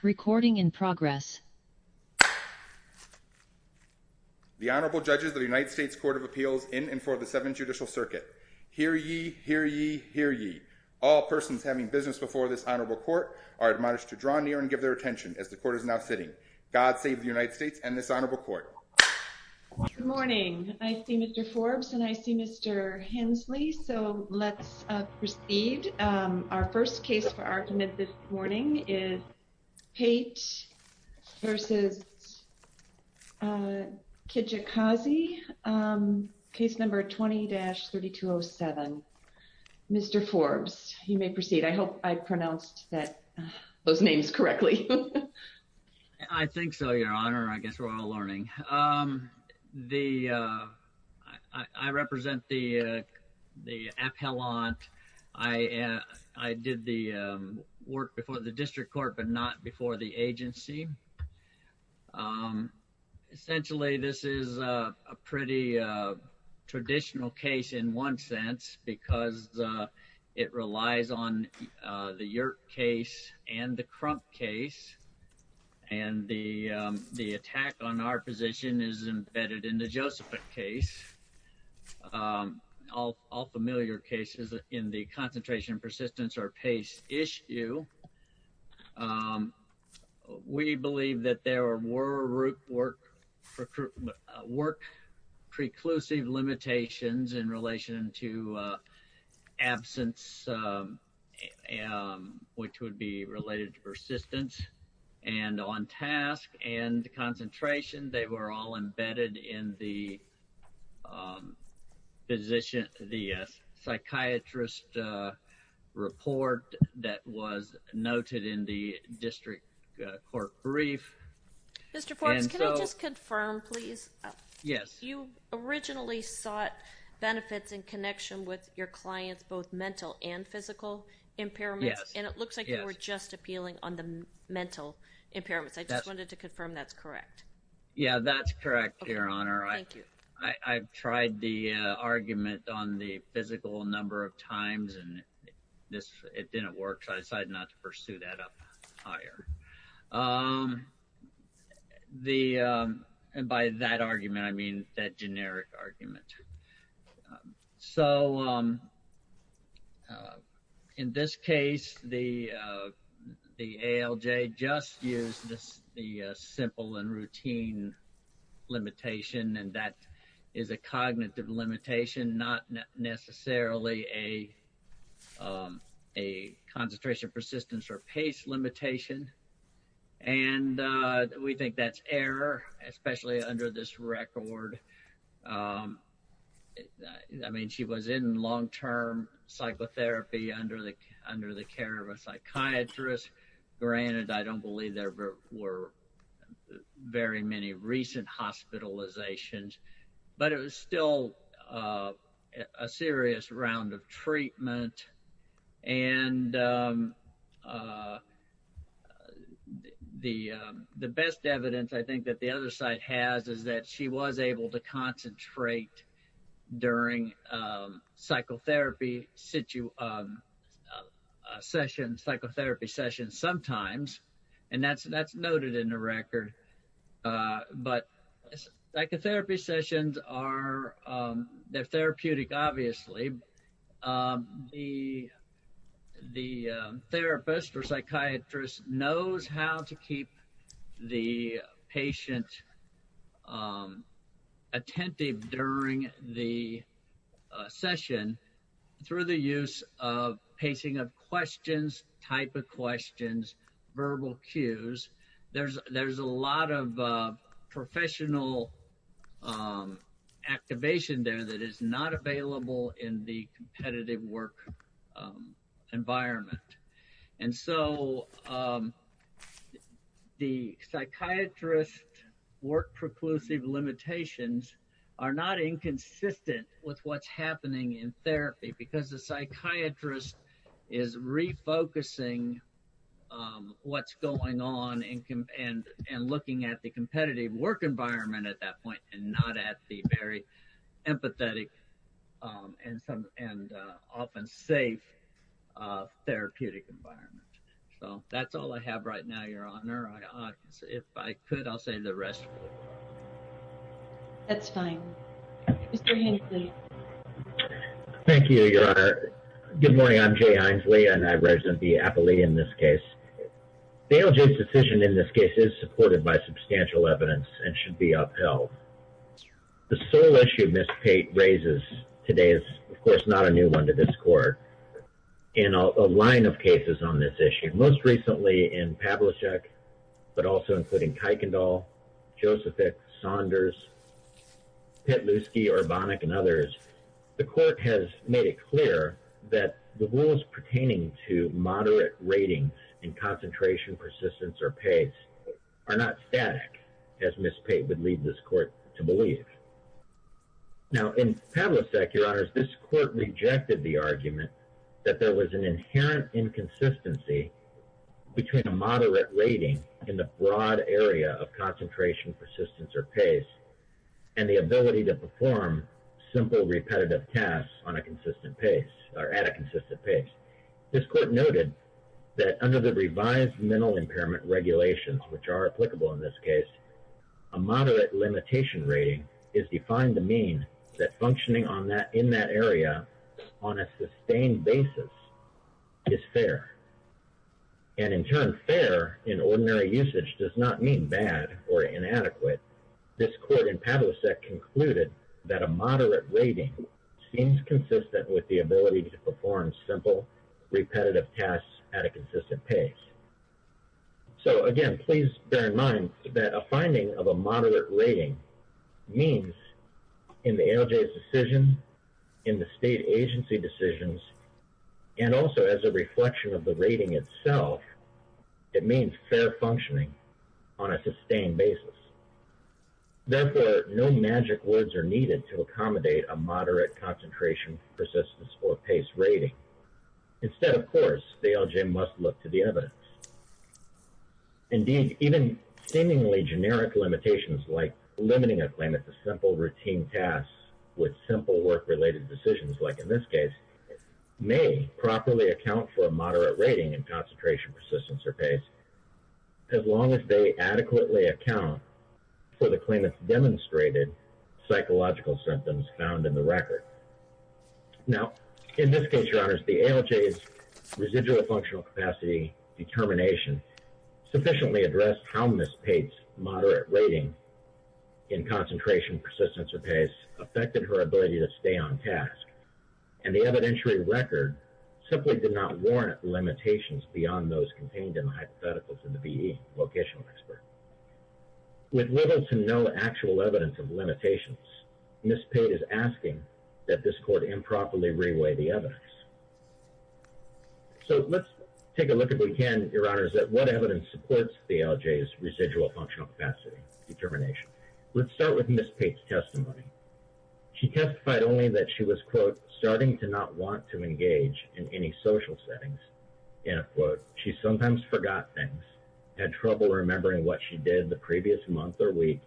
The Honorable Judges of the United States Court of Appeals in and for the Seventh Judicial Circuit. Hear ye, hear ye, hear ye. All persons having business before this Honorable Court are admonished to draw near and give their attention as the Court is now sitting. God save the United States and this Honorable Court. Good morning. I see Mr. Forbes and I see Mr. Hensley, so let's proceed. Our first case for our committed warning is Pate v. Kijakazi, case number 20-3207. Mr. Forbes, you may proceed. I hope I pronounced those names correctly. I think so, Your Honor. I guess we're all learning. I represent the appellant. I did the work before the District Court but not before the agency. Essentially, this is a pretty traditional case in one sense because it relies on the work preclusive limitations in relation to absence, which would be related to persistence. And on task and concentration, they were all embedded in the psychiatrist report that was noted in the District Court brief. Mr. Forbes, can I just confirm, please? Yes. You originally sought benefits in connection with your clients, both mental and physical impairments. Yes. And it looks like you were just appealing on the mental impairments. I just wanted to confirm that's correct. Yeah, that's correct, Your Honor. I've tried the argument on the physical a number of times and it didn't work, so I decided not to pursue that up higher. And by that argument, I mean that generic argument. So, in this case, the ALJ just used the simple and routine limitation and that is a cognitive limitation, not necessarily a concentration persistence or pace limitation. And we think that's error, especially under this record. I mean, she was in long term psychotherapy under the care of a psychiatrist. Granted, I don't believe there were very many recent hospitalizations, but it was still a serious round of treatment. And the best evidence, I think, that the other side has is that she was able to concentrate during psychotherapy sessions sometimes. And that's noted in the record. But psychotherapy sessions are therapeutic, obviously. The therapist or psychiatrist knows how to keep the patient attentive during the session through the use of pacing of questions, type of questions, verbal cues. There's a lot of professional activation there that is not available in the competitive work environment. And so the psychiatrist work preclusive limitations are not inconsistent with what's happening in therapy because the psychiatrist is refocusing what's going on and looking at the competitive work environment at that point and not at the very empathetic and often safe therapeutic environment. So that's all I have right now, Your Honor. If I could, I'll say the rest. That's fine. Mr. Thank you, Your Honor. Good morning. I'm Jay Hinesley, and I represent the Appalachian in this case. Dale Jay's decision in this case is supported by substantial evidence and should be upheld. The sole issue Ms. Pate raises today is, of course, not a new one to this court in a line of cases on this issue, most recently in Pavlicek, but also including Kuykendall, Josephick, Saunders, Petluski, Orbonik, and others, the court has made it clear that the rules pertaining to moderate rating and concentration, persistence, or pace are not static, as Ms. Pate would lead this court to believe. Now, in Pavlicek, Your Honors, this court rejected the argument that there was an inherent inconsistency between a moderate rating in the broad area of concentration, persistence, or pace and the ability to perform simple, repetitive tasks on a consistent pace or at a consistent pace. This court noted that under the revised mental impairment regulations, which are applicable in this case, a moderate limitation rating is defined to mean that functioning on that in that area on a sustained basis is fair, and in turn, fair in ordinary usage does not mean bad or inadequate. This court in Pavlicek concluded that a moderate rating seems consistent with the ability to perform simple, repetitive tasks at a consistent pace. So, again, please bear in mind that a finding of a moderate rating means in the ALJ's decision, in the state agency decisions, and also as a reflection of the rating itself, it means fair functioning on a sustained basis. Therefore, no magic words are needed to accommodate a moderate concentration, persistence, or pace rating. Instead, of course, the ALJ must look to the evidence. Indeed, even seemingly generic limitations like limiting a claim at the simple, routine tasks with simple work-related decisions, like in this case, may properly account for a moderate rating in concentration, persistence, or pace, as long as they adequately account for the claimant's demonstrated psychological symptoms found in the record. Now, in this case, Your Honors, the ALJ's residual functional capacity determination sufficiently addressed how Ms. Pate's moderate rating in concentration, persistence, or pace affected her ability to stay on task, and the evidentiary record simply did not warrant limitations beyond those contained in the hypotheticals in the BE Vocational Expert. With little to no actual evidence of limitations, Ms. Pate is asking that this Court improperly re-weigh the evidence. So, let's take a look at, again, Your Honors, at what evidence supports the ALJ's residual functional capacity determination. Let's start with Ms. Pate's testimony. She testified only that she was, quote, starting to not want to engage in any social settings, end quote. She sometimes forgot things, had trouble remembering what she did the previous month or week,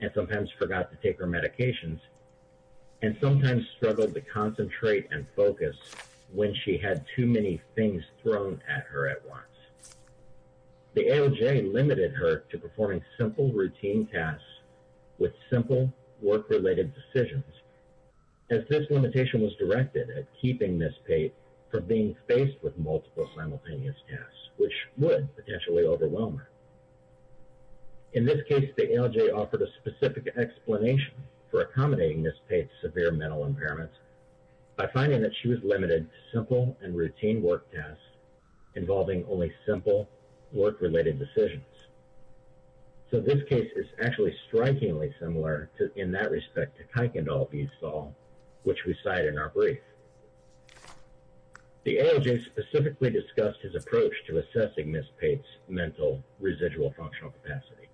and sometimes forgot to take her medications, and sometimes struggled to concentrate and focus when she had too many things thrown at her at once. The ALJ limited her to performing simple, routine tasks with simple work-related decisions, as this limitation was directed at keeping Ms. Pate from being faced with multiple simultaneous tasks, which would potentially overwhelm her. In this case, the ALJ offered a specific explanation for accommodating Ms. Pate's severe mental impairment by finding that she was limited to simple and routine work tasks involving only simple work-related decisions. So, this case is actually strikingly similar in that respect to Kuykendall v. Saul, which we cite in our brief. The ALJ specifically discussed his approach to assessing Ms. Pate's mental residual functional capacity,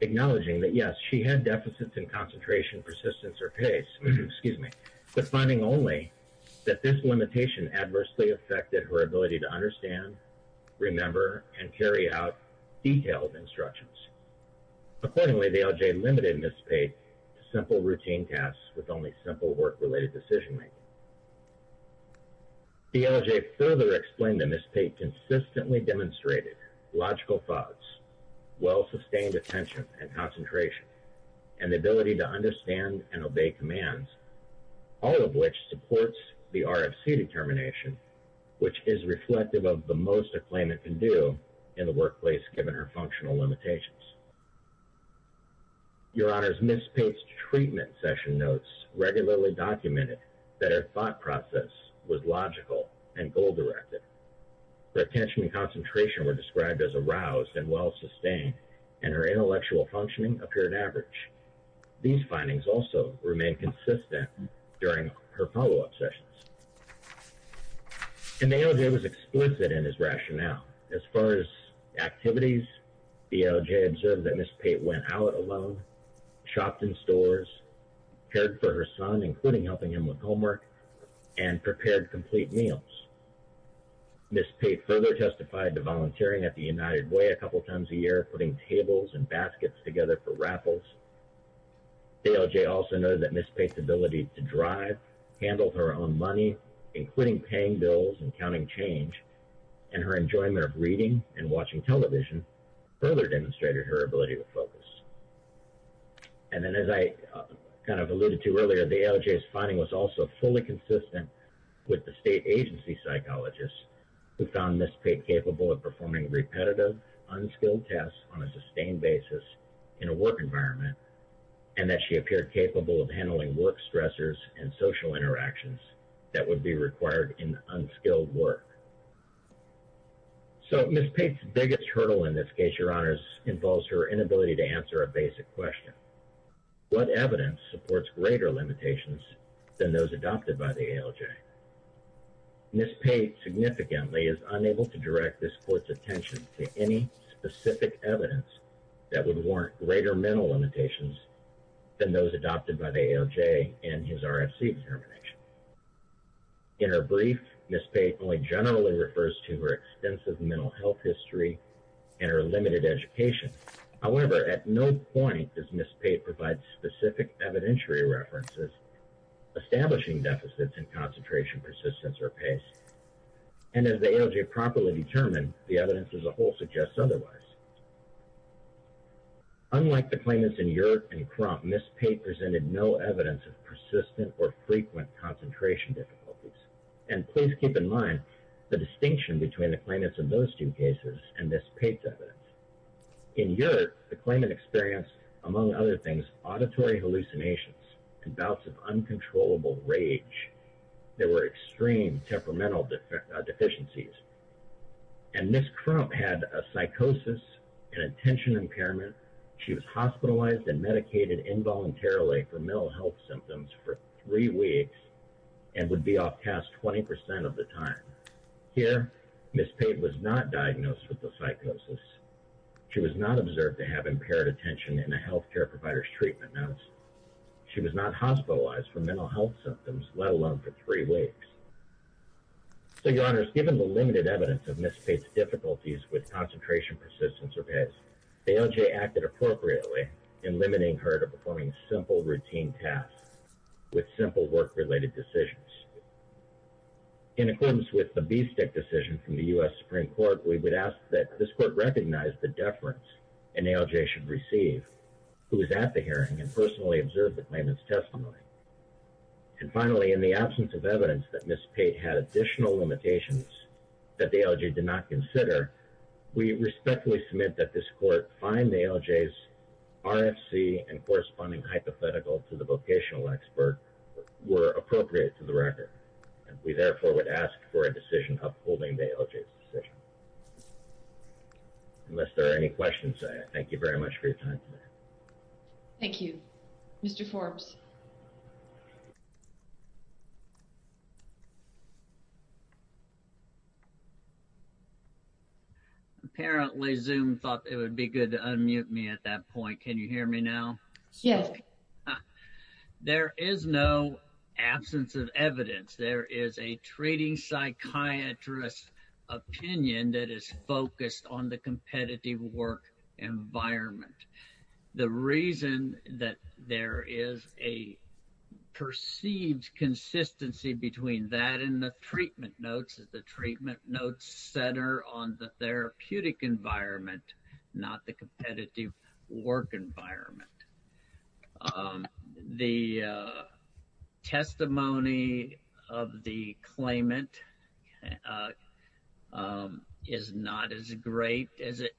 acknowledging that, yes, she had deficits in concentration, persistence, or pace, but finding only that this limitation adversely affected her ability to understand, remember, and carry out detailed instructions. Accordingly, the ALJ limited Ms. Pate to simple, routine tasks with only simple work-related decision-making. The ALJ further explained that Ms. Pate consistently demonstrated logical thoughts, well-sustained attention and concentration, and the ability to understand and obey commands, all of which supports the RFC determination, which is reflective of the most a claimant can do in the workplace given her functional limitations. Your Honor, Ms. Pate's treatment session notes regularly documented that her thought process was logical and goal-directed. Her attention and concentration were described as aroused and well-sustained, and her intellectual functioning appeared average. These findings also remained consistent during her follow-up sessions. The ALJ was explicit in his rationale. As far as activities, the ALJ observed that Ms. Pate went out alone, shopped in stores, cared for her son, including helping him with homework, and prepared complete meals. Ms. Pate further testified to volunteering at the United Way putting tables and baskets together for raffles. The ALJ noted that Ms. Pate's ability to drive, handle her own money, including paying bills and counting change, and her enjoyment of reading and watching television further demonstrated her ability to focus. As I alluded to earlier, the ALJ's finding was also fully consistent with the state agency psychologist who found Ms. Pate capable of performing repetitive, unskilled tasks on a sustained basis in a work environment, and that she appeared capable of handling work stressors and social interactions that would be required in unskilled work. So Ms. Pate's biggest hurdle in this case, Your Honors, involves her inability to answer a basic question. What evidence supports greater limitations than those adopted by the ALJ? Ms. Pate significantly is unable to direct this court's attention to any specific evidence that would warrant greater mental limitations than those adopted by the ALJ in his RFC determination. In her brief, Ms. Pate only generally refers to her extensive mental health history and her limited education. However, at no point does Ms. Pate provide specific evidentiary references establishing deficits in concentration, persistence, or pace. And as the ALJ properly determined, the evidence as a whole suggests otherwise. Unlike the claimants in Yurt and Crump, Ms. Pate presented no evidence of persistent or frequent concentration difficulties. And please keep in mind the distinction between the claimants in those two cases and Ms. Pate's evidence. In Yurt, the claimant experienced, among other things, auditory hallucinations and bouts of uncontrollable rage. There were extreme temperamental deficiencies. And Ms. Crump had a psychosis and attention impairment. She was hospitalized and medicated involuntarily for mental health symptoms for three weeks and would be off task 20% of the time. Here, Ms. Pate was not diagnosed with the psychosis. She was not impaired attention in a healthcare provider's treatment. She was not hospitalized for mental health symptoms, let alone for three weeks. So, Your Honors, given the limited evidence of Ms. Pate's difficulties with concentration, persistence, or pace, the ALJ acted appropriately in limiting her to performing simple routine tasks with simple work-related decisions. In accordance with the bee stick decision from the U.S. Supreme Court, we would ask that this ALJ should receive who is at the hearing and personally observe the claimant's testimony. And finally, in the absence of evidence that Ms. Pate had additional limitations that the ALJ did not consider, we respectfully submit that this court find the ALJ's RFC and corresponding hypothetical to the vocational expert were appropriate to the record. And we therefore would ask for a decision upholding the ALJ's decision. Unless there are any questions, I thank you very much for your time today. Thank you. Mr. Forbes. Apparently Zoom thought it would be good to unmute me at that point. Can you hear me now? Yes. Okay. There is no absence of evidence. There is a treating psychiatrist opinion that is focused on the competitive work environment. The reason that there is a perceived consistency between that and the treatment notes is the treatment notes center on the therapeutic environment, not the competitive work environment. The testimony of the claimant is not as great as it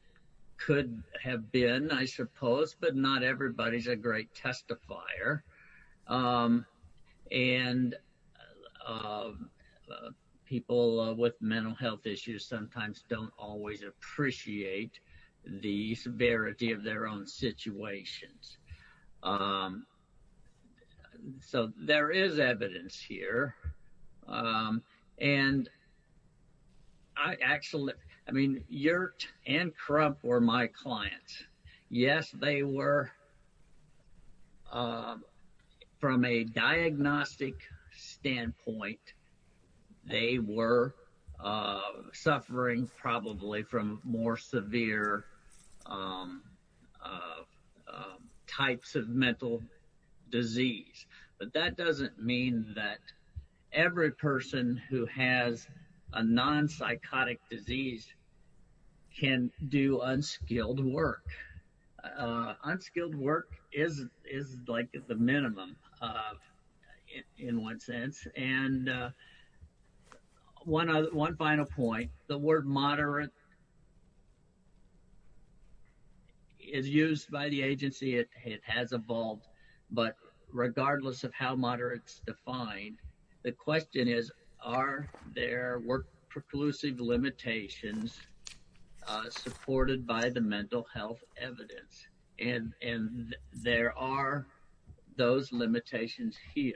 could have been, I suppose, but not everybody is a great testifier. And people with mental health issues sometimes don't always appreciate the severity of their own situations. So there is evidence here. And I actually, I mean, Yurt and Crump were my clients. Yes, they were from a diagnostic standpoint, they were suffering probably from more severe types of mental disease. But that doesn't mean that every person who has a non-psychotic disease can do unskilled work. Unskilled work is like the minimum in one sense. And one final point, the word moderate is used by the agency, it has evolved. But regardless of how moderate is defined, the question is, are there work preclusive limitations supported by the mental health evidence? And there are those limitations here.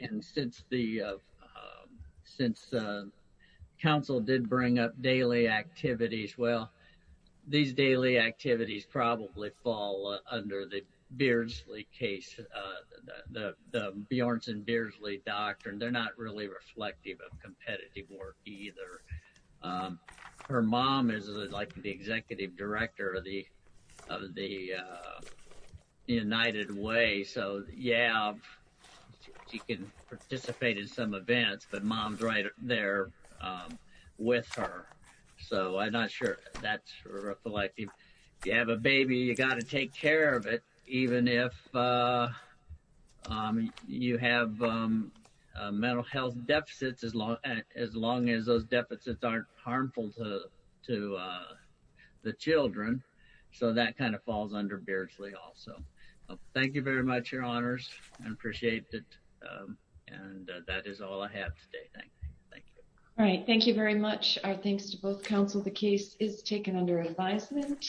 And since the council did bring up daily activities, well, these daily activities probably fall under the Beardsley case, the Bjorns and Beardsley doctrine, they're not really reflective of competitive work either. Her mom is like the executive director of the United Way. So yeah, she can participate in some events, but mom's right there with her. So I'm not sure that's reflective. If you have a baby, you got to take care of it, even if you have mental health deficits as long as those deficits aren't harmful to the children. So that kind of falls under Beardsley also. Thank you very much, your honors. I appreciate it. And that is all I have today. Thank you. All right. Thank you very much. Our thanks to both council. The case is taken under advisement.